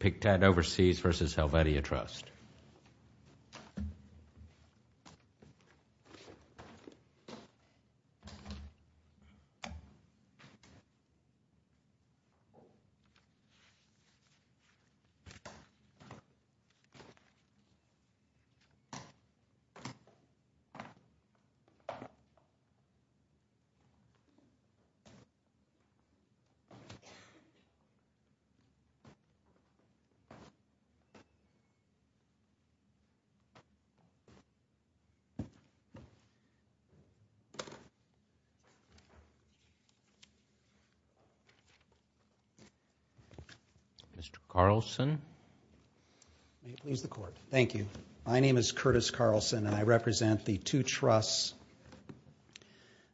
PICTAD Overseas v. Helvetia Trust Mr. Carlson. May it please the Court. Thank you. My name is Curtis Carlson and I represent the two trusts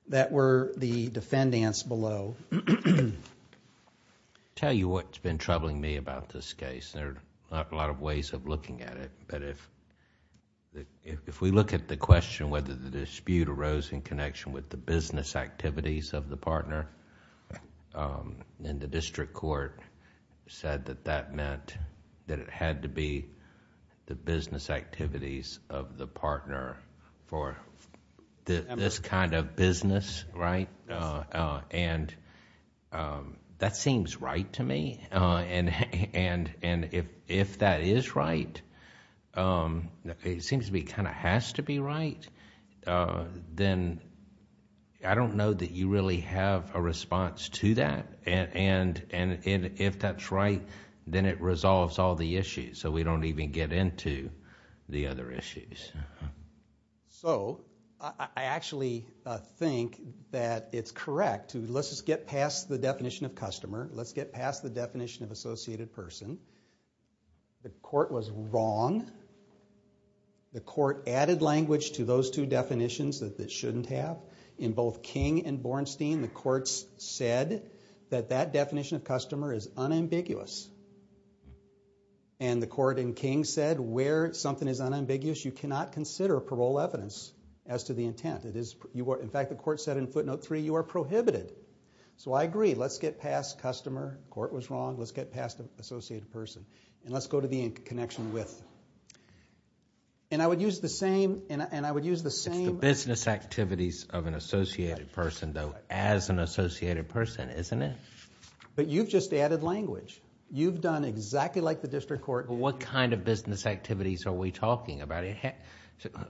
that were the defendants below. I'll tell you what's been troubling me about this case. There are a lot of ways of looking at it, but if we look at the question whether the dispute arose in connection with the business activities of the partner, then the district court said that that meant that it had to be the business activities of the partner for this kind of business, right? That seems right to me. If that is right, it seems to be kind of has to be right, then I don't know that you really have a response to that. If that's right, then it resolves all the issues, so we don't even get into the other issues. So I actually think that it's correct to let's just get past the definition of customer. Let's get past the definition of associated person. The court was wrong. The court added language to those two definitions that it shouldn't have. In both King and Bornstein, the courts said that that the court in King said where something is unambiguous, you cannot consider parole evidence as to the intent. In fact, the court said in footnote three, you are prohibited. So I agree. Let's get past customer. The court was wrong. Let's get past the associated person, and let's go to the connection with. And I would use the same... It's the business activities of an associated person, though, as an associated person, isn't it? But you've just added language. You've done exactly like the district court. What kind of business activities are we talking about?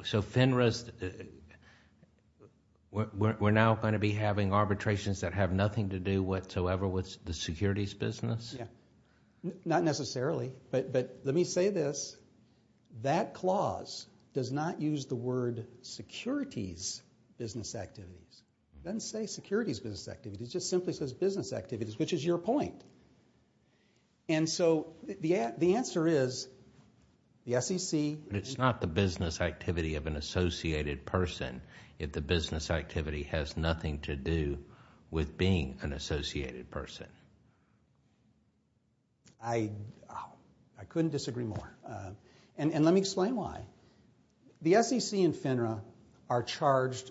So FINRA's... we're now going to be having arbitrations that have nothing to do whatsoever with the securities business? Yeah. Not necessarily, but let me say this. That clause does not use the word securities business activities. It doesn't say securities business activities, which is your point. And so the answer is the SEC... But it's not the business activity of an associated person if the business activity has nothing to do with being an associated person. I couldn't disagree more. And let me explain why. The SEC and FINRA are in charge.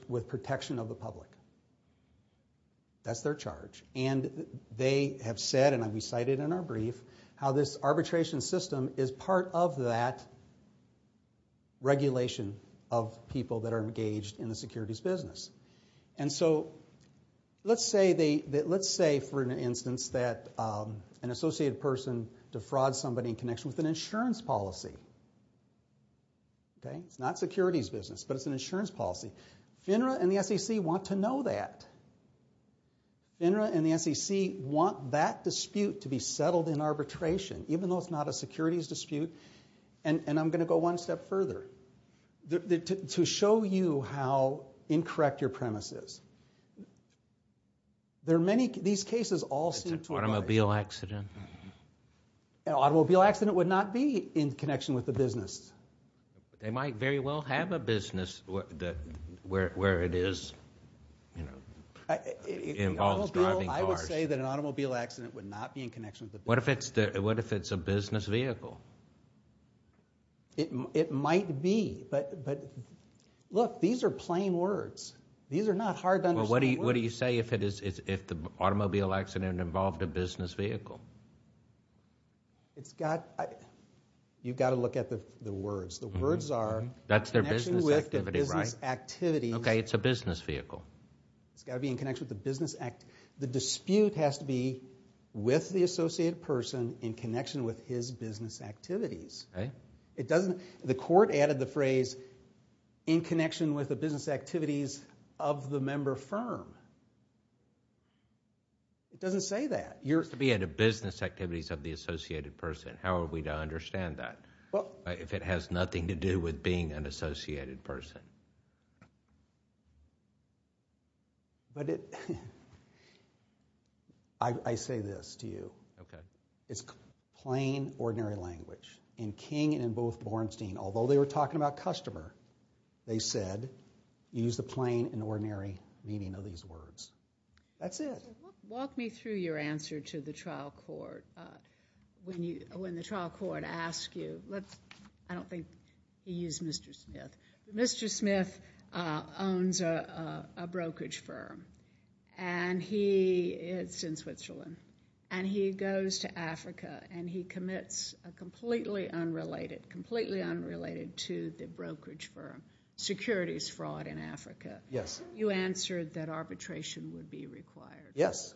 And they have said, and we cited in our brief, how this arbitration system is part of that regulation of people that are engaged in the securities business. And so let's say, for an instance, that an associated person defrauds somebody in connection with an insurance policy. It's not securities business, but it's an insurance policy. FINRA and the SEC want to know that. FINRA and the SEC want that dispute to be settled in arbitration, even though it's not a securities dispute. And I'm going to go one step further to show you how incorrect your premise is. There are many... these cases all seem... It's an automobile accident. An automobile accident would not be in connection with the business. They might very well have a business where it is, you know, involves driving cars. I would say that an automobile accident would not be in connection with the business. What if it's a business vehicle? It might be, but look, these are plain words. These are not hard to understand words. What do you say if the automobile accident involved a business vehicle? It's got... you've got to look at the words. The words are... That's their business activity, right? In connection with the business activities... Okay, it's a business vehicle. It's got to be in connection with the business... the dispute has to be with the associated person in connection with his business activities. Okay. It doesn't... the court added the phrase, in connection with the business activities of the member firm. It doesn't say that. You're to be in the business activities of the associated person. How are we to understand that? Well... If it has nothing to do with being an associated person. But it... I say this to you. Okay. It's plain, ordinary language. In King and in both Bornstein, although they were talking about customer, they said, use the plain and ordinary meaning of these words. That's it. Walk me through your answer to the trial court. When the trial court asks you... I don't think he used Mr. Smith. Mr. Smith owns a brokerage firm and he... it's in Switzerland. He goes to Africa and he commits a completely unrelated... completely unrelated to the brokerage firm securities fraud in Africa. Yes. You answered that arbitration would be required. Yes.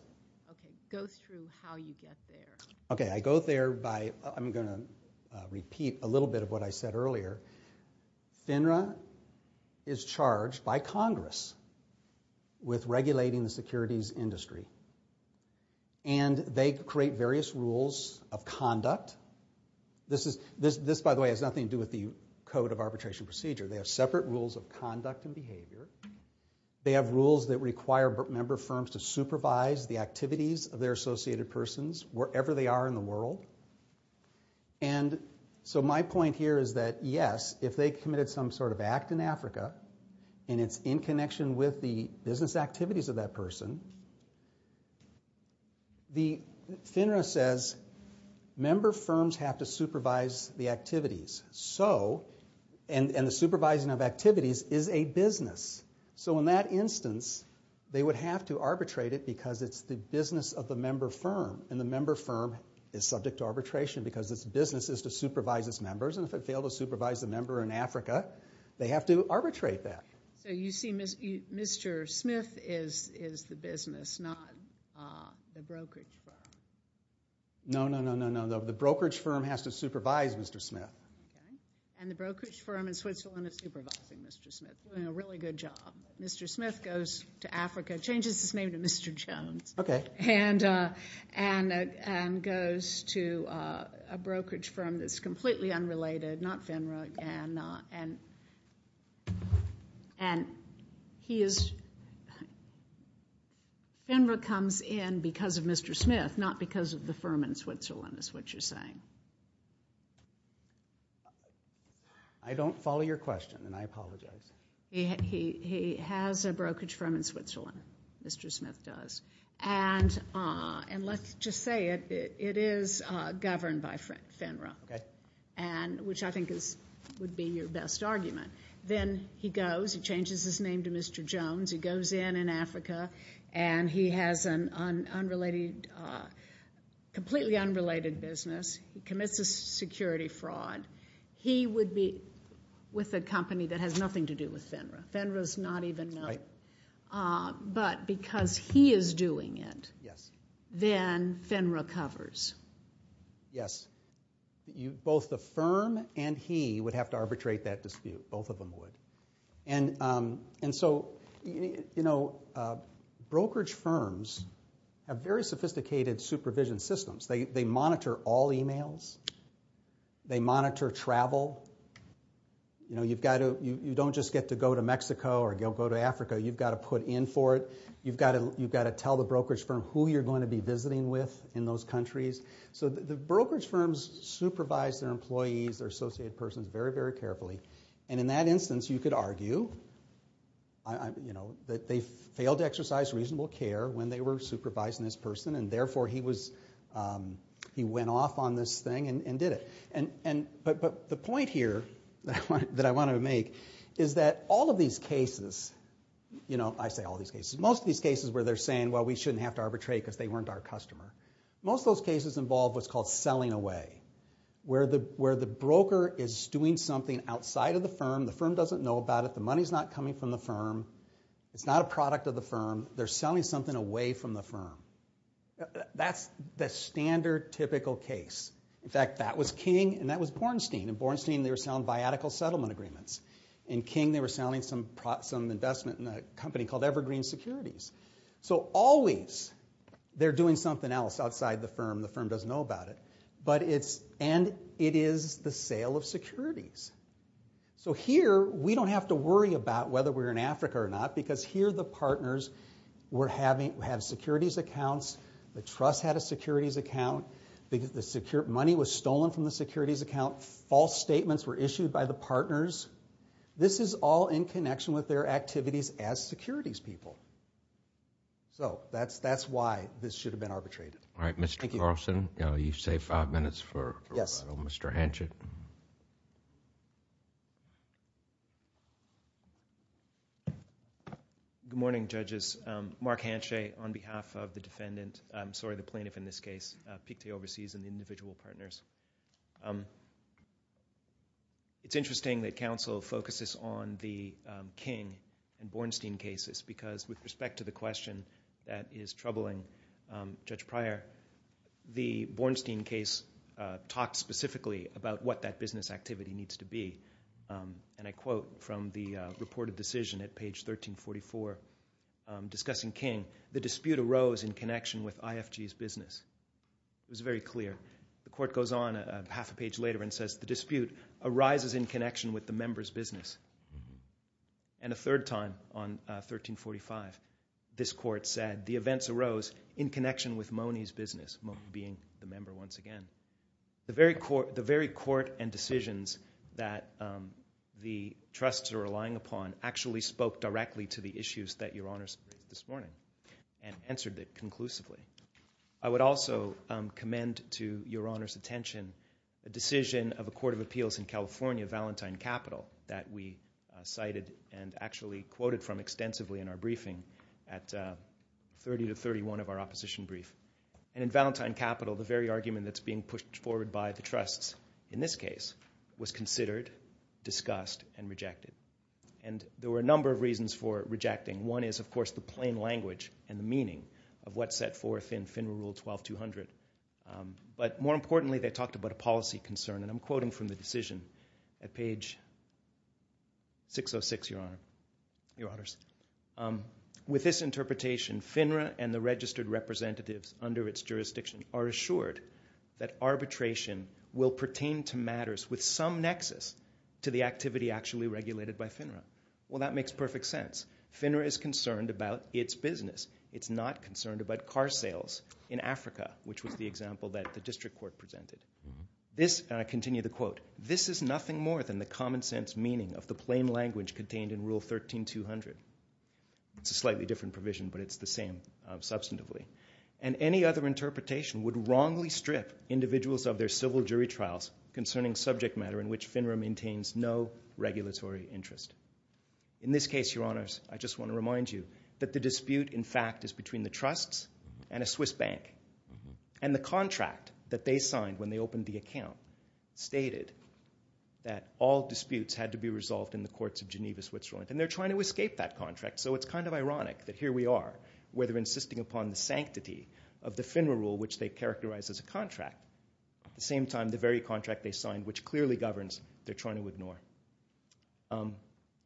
Okay. Go through how you get there. Okay. I go there by... I'm going to repeat a little bit of what I said earlier. FINRA is charged by Congress with regulating the securities industry. They create various rules of conduct. This, by the way, has nothing to do with the Code of Arbitration Procedure. They have separate rules of conduct and behavior. They have rules that require member firms to supervise the activities of their associated persons wherever they are in the world. And so my point here is that, yes, if they committed some sort of act in Africa and it's in connection with the business activities of that person, the FINRA says member firms have to supervise the activities. So... and the supervising of activities is a business. So in that instance, they would have to arbitrate it because it's the business of the member firm. And the member firm is subject to arbitration because its business is to supervise its members. And if it failed to supervise the member in Africa, they have to arbitrate that. So you see Mr. Smith is the business, not the brokerage firm. No, no, no, no, no. The brokerage firm has to supervise Mr. Smith. And the brokerage firm in Switzerland is supervising Mr. Smith, doing a really good job. Mr. Smith goes to Africa, changes his name to Mr. Jones, and goes to a brokerage firm that's completely unrelated, not FINRA, and he is... FINRA comes in because of Mr. Smith, not because of the firm in Switzerland, is what you're saying. I don't follow your question, and I apologize. He has a brokerage firm in Switzerland. Mr. Smith does. And let's just say it, it is governed by FINRA, which I think would be your best argument. Then he goes, he changes his name to Mr. Jones, he goes in in Africa, and he has an unrelated, completely unrelated business. He commits a security fraud. He would be with a company that has nothing to do with FINRA. FINRA's not even known. But because he is doing it, then FINRA covers. Yes. Both the firm and he would have to arbitrate that dispute. Both of them would. And so brokerage firms have very sophisticated supervision systems. They monitor all emails. They monitor travel. You don't just get to go to Mexico or go to Africa, you've got to put in for it. You've got to tell the brokerage firm who you're going to be visiting with in those countries. So the brokerage firms supervise their employees, their associated persons, very, very carefully. And in that instance, you could argue that they failed to exercise reasonable care when they were supervising this person, and therefore he went off on this thing and did it. But the point here that I want to make is that all of these cases, you know, I say all of these cases, most of these cases where they're saying, well, we shouldn't have to arbitrate because they weren't our customer, most of those cases involved what's called selling away. Where the broker is doing something outside of the firm, the firm doesn't know about it, the money's not coming from the firm, it's not a product of the firm, they're selling something away from the firm. That's the standard, typical case. In fact, that was King and that was Bornstein. In Bornstein, they were selling biattical settlement agreements. In King, they were selling some investment in a company called Evergreen Securities. So always, they're doing something else outside the firm, the firm doesn't know about it. And it is the sale of securities. So here, we don't have to worry about whether we're in Africa or not, because here the partners have securities accounts, the trust had a securities account, money was stolen from the securities account, false statements were issued by the partners. This is all in connection with their activities as securities people. So that's why this should have been arbitrated. Alright, Mr. Carlson, you save five minutes for Mr. Hanchet. Good morning, judges. Mark Hanchet on behalf of the defendant, I'm sorry, the plaintiff in this case, Piquet Overseas and the individual partners. It's interesting that counsel focuses on the King and Bornstein cases because with respect to the question that is troubling Judge Pryor, the Bornstein case talks specifically about what that business activity needs to be. And I quote from the reported decision at page 1344 discussing King, the dispute arose in connection with IFG's business. It was very clear. The court goes on half a page later and says, the dispute arises in connection with the member's business. And a third time on 1345, this court said, the events arose in connection with Mone's business, Mone being the member once again. The very court and decisions that the trusts are relying upon actually spoke directly to the issues that Your Honors raised this morning and answered it conclusively. I would also commend to Your Honors' attention the decision of a court of appeals in California, Valentine Capital, that we cited and actually quoted from extensively in our briefing at 30 to 31 of our opposition brief. And in Valentine Capital, the very argument that's being pushed forward by the trusts in this case was considered, discussed, and rejected. And there were a number of reasons for rejecting. One is, of course, the plain language and the meaning of what's set forth in FINRA Rule 12-200. But more importantly, they talked about a policy concern. And I'm quoting from the decision at page 606, Your Honors. With this interpretation, FINRA and the registered representatives under its jurisdiction are assured that arbitration will pertain to matters with some nexus to the activity actually regulated by FINRA. Well, that makes perfect sense. FINRA is concerned about its business. It's not concerned about car sales in Africa, which was the example that the district court presented. This, and I continue the quote, this is nothing more than the common sense meaning of the plain language contained in Rule 13-200. It's a slightly different provision, but it's the same substantively. And any other interpretation would wrongly strip individuals of their civil jury trials concerning subject matter in which FINRA maintains no regulatory interest. In this case, Your Honors, I just want to remind you that the dispute, in fact, is between the trusts and a Swiss bank. And the contract that they signed when they opened the account stated that all disputes had to be resolved in the courts of Geneva, Switzerland. And they're trying to escape that contract, so it's kind of ironic that here we are, where they're insisting upon the sanctity of the FINRA Rule, which they characterize as a contract. At the same time, the very contract they signed, which clearly governs, they're trying to ignore.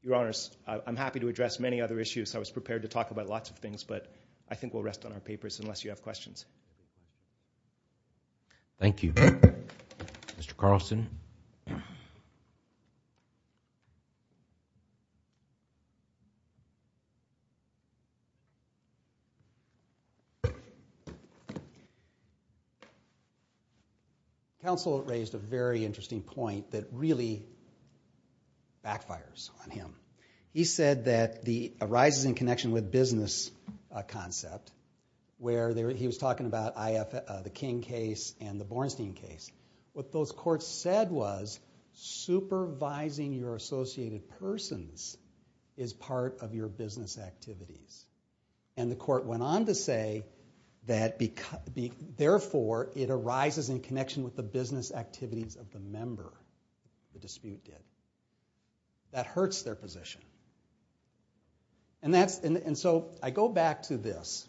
Your Honors, I'm happy to address many other issues. I was prepared to talk about lots of things, but I think we'll rest on our papers unless you have questions. Thank you. Mr. Carlson? Counsel raised a very interesting point that really backfires on him. He said that the arises in connection with business concept, where he was talking about the King case and the Bornstein case. What those courts said was supervising your associated persons is part of your business activities. And the court went on to say that, therefore, it arises in connection with the business activities of the member, the dispute did. That hurts their position. And so I go back to this.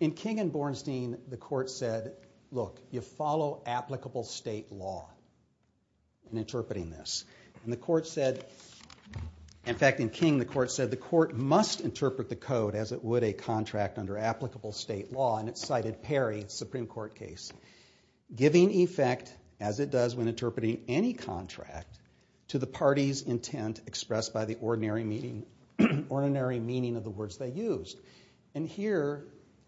In King and Bornstein, the court said, look, you follow applicable state law in interpreting this. And the court said, in fact, in King, the court said, interpret the code as it would a contract under applicable state law. And it cited Perry, Supreme Court case. Giving effect, as it does when interpreting any contract, to the party's intent expressed by the ordinary meaning of the words they used. And here,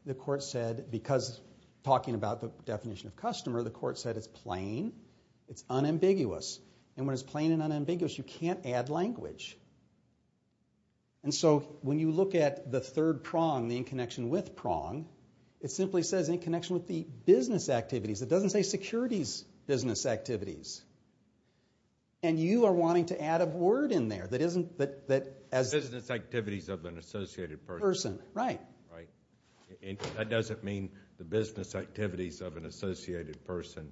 the court said, because talking about the definition of customer, the court said it's plain, it's unambiguous. And when it's plain and unambiguous, you can't add language. And so when you look at the third prong, the in connection with prong, it simply says in connection with the business activities. It doesn't say securities business activities. And you are wanting to add a word in there that isn't... Business activities of an associated person. Right. That doesn't mean the business activities of an associated person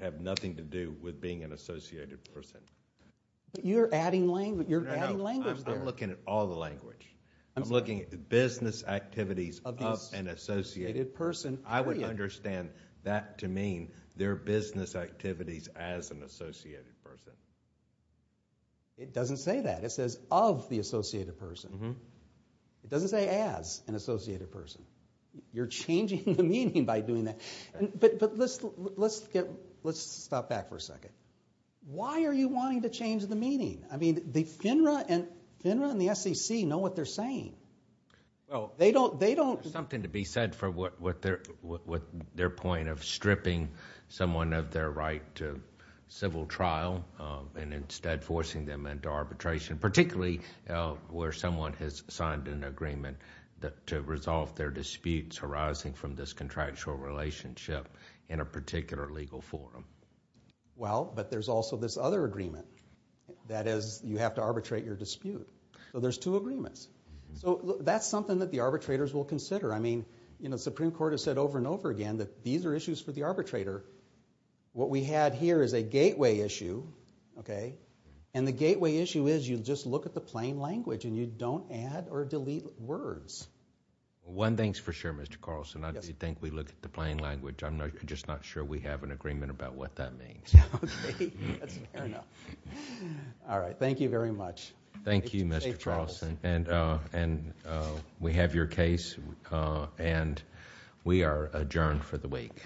have nothing to do with being an associated person. You're adding language there. I'm looking at all the language. I'm looking at business activities of an associated person. I would understand that to mean their business activities as an associated person. It doesn't say that. It says of the associated person. It doesn't say as an associated person. You're changing the meaning by doing that. But let's stop back for a second. Why are you wanting to change the meaning? FINRA and the SEC know what they're saying. There's something to be said for their point of stripping someone of their right to civil trial and instead forcing them into arbitration. Particularly where someone has signed an agreement to resolve their disputes arising from this contractual relationship in a particular legal forum. Well, but there's also this other agreement. That is, you have to arbitrate your dispute. There's two agreements. That's something that the arbitrators will consider. The Supreme Court has said over and over again that these are issues for the arbitrator. What we have here is a gateway issue. The gateway issue is you just look at the plain language and you don't add or delete words. One thing's for sure, Mr. Carlson. I do think we look at the plain language. I'm just not sure we have an agreement about what that means. All right. Thank you very much. Thank you, Mr. Carlson. We have your case and we are adjourned for the week.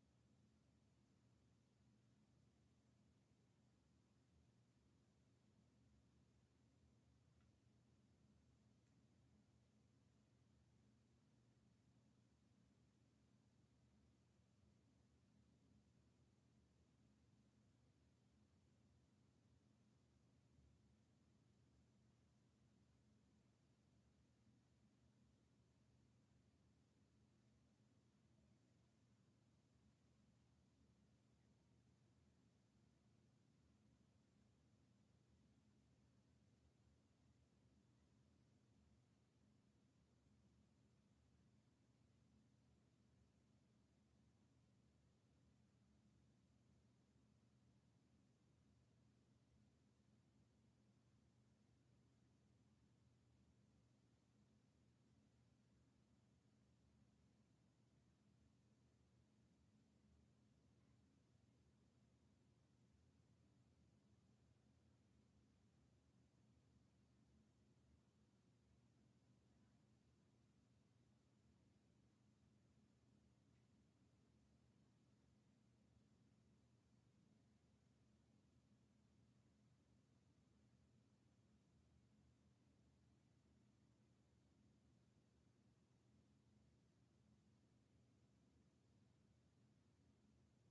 Thank you. Thank you. Thank you. Thank you. Thank you. Thank you. Thank you. Thank you. Thank you. Thank you. Thank you. Thank you. Thank you. Thank you. Thank you. Thank you. Thank you. Thank you.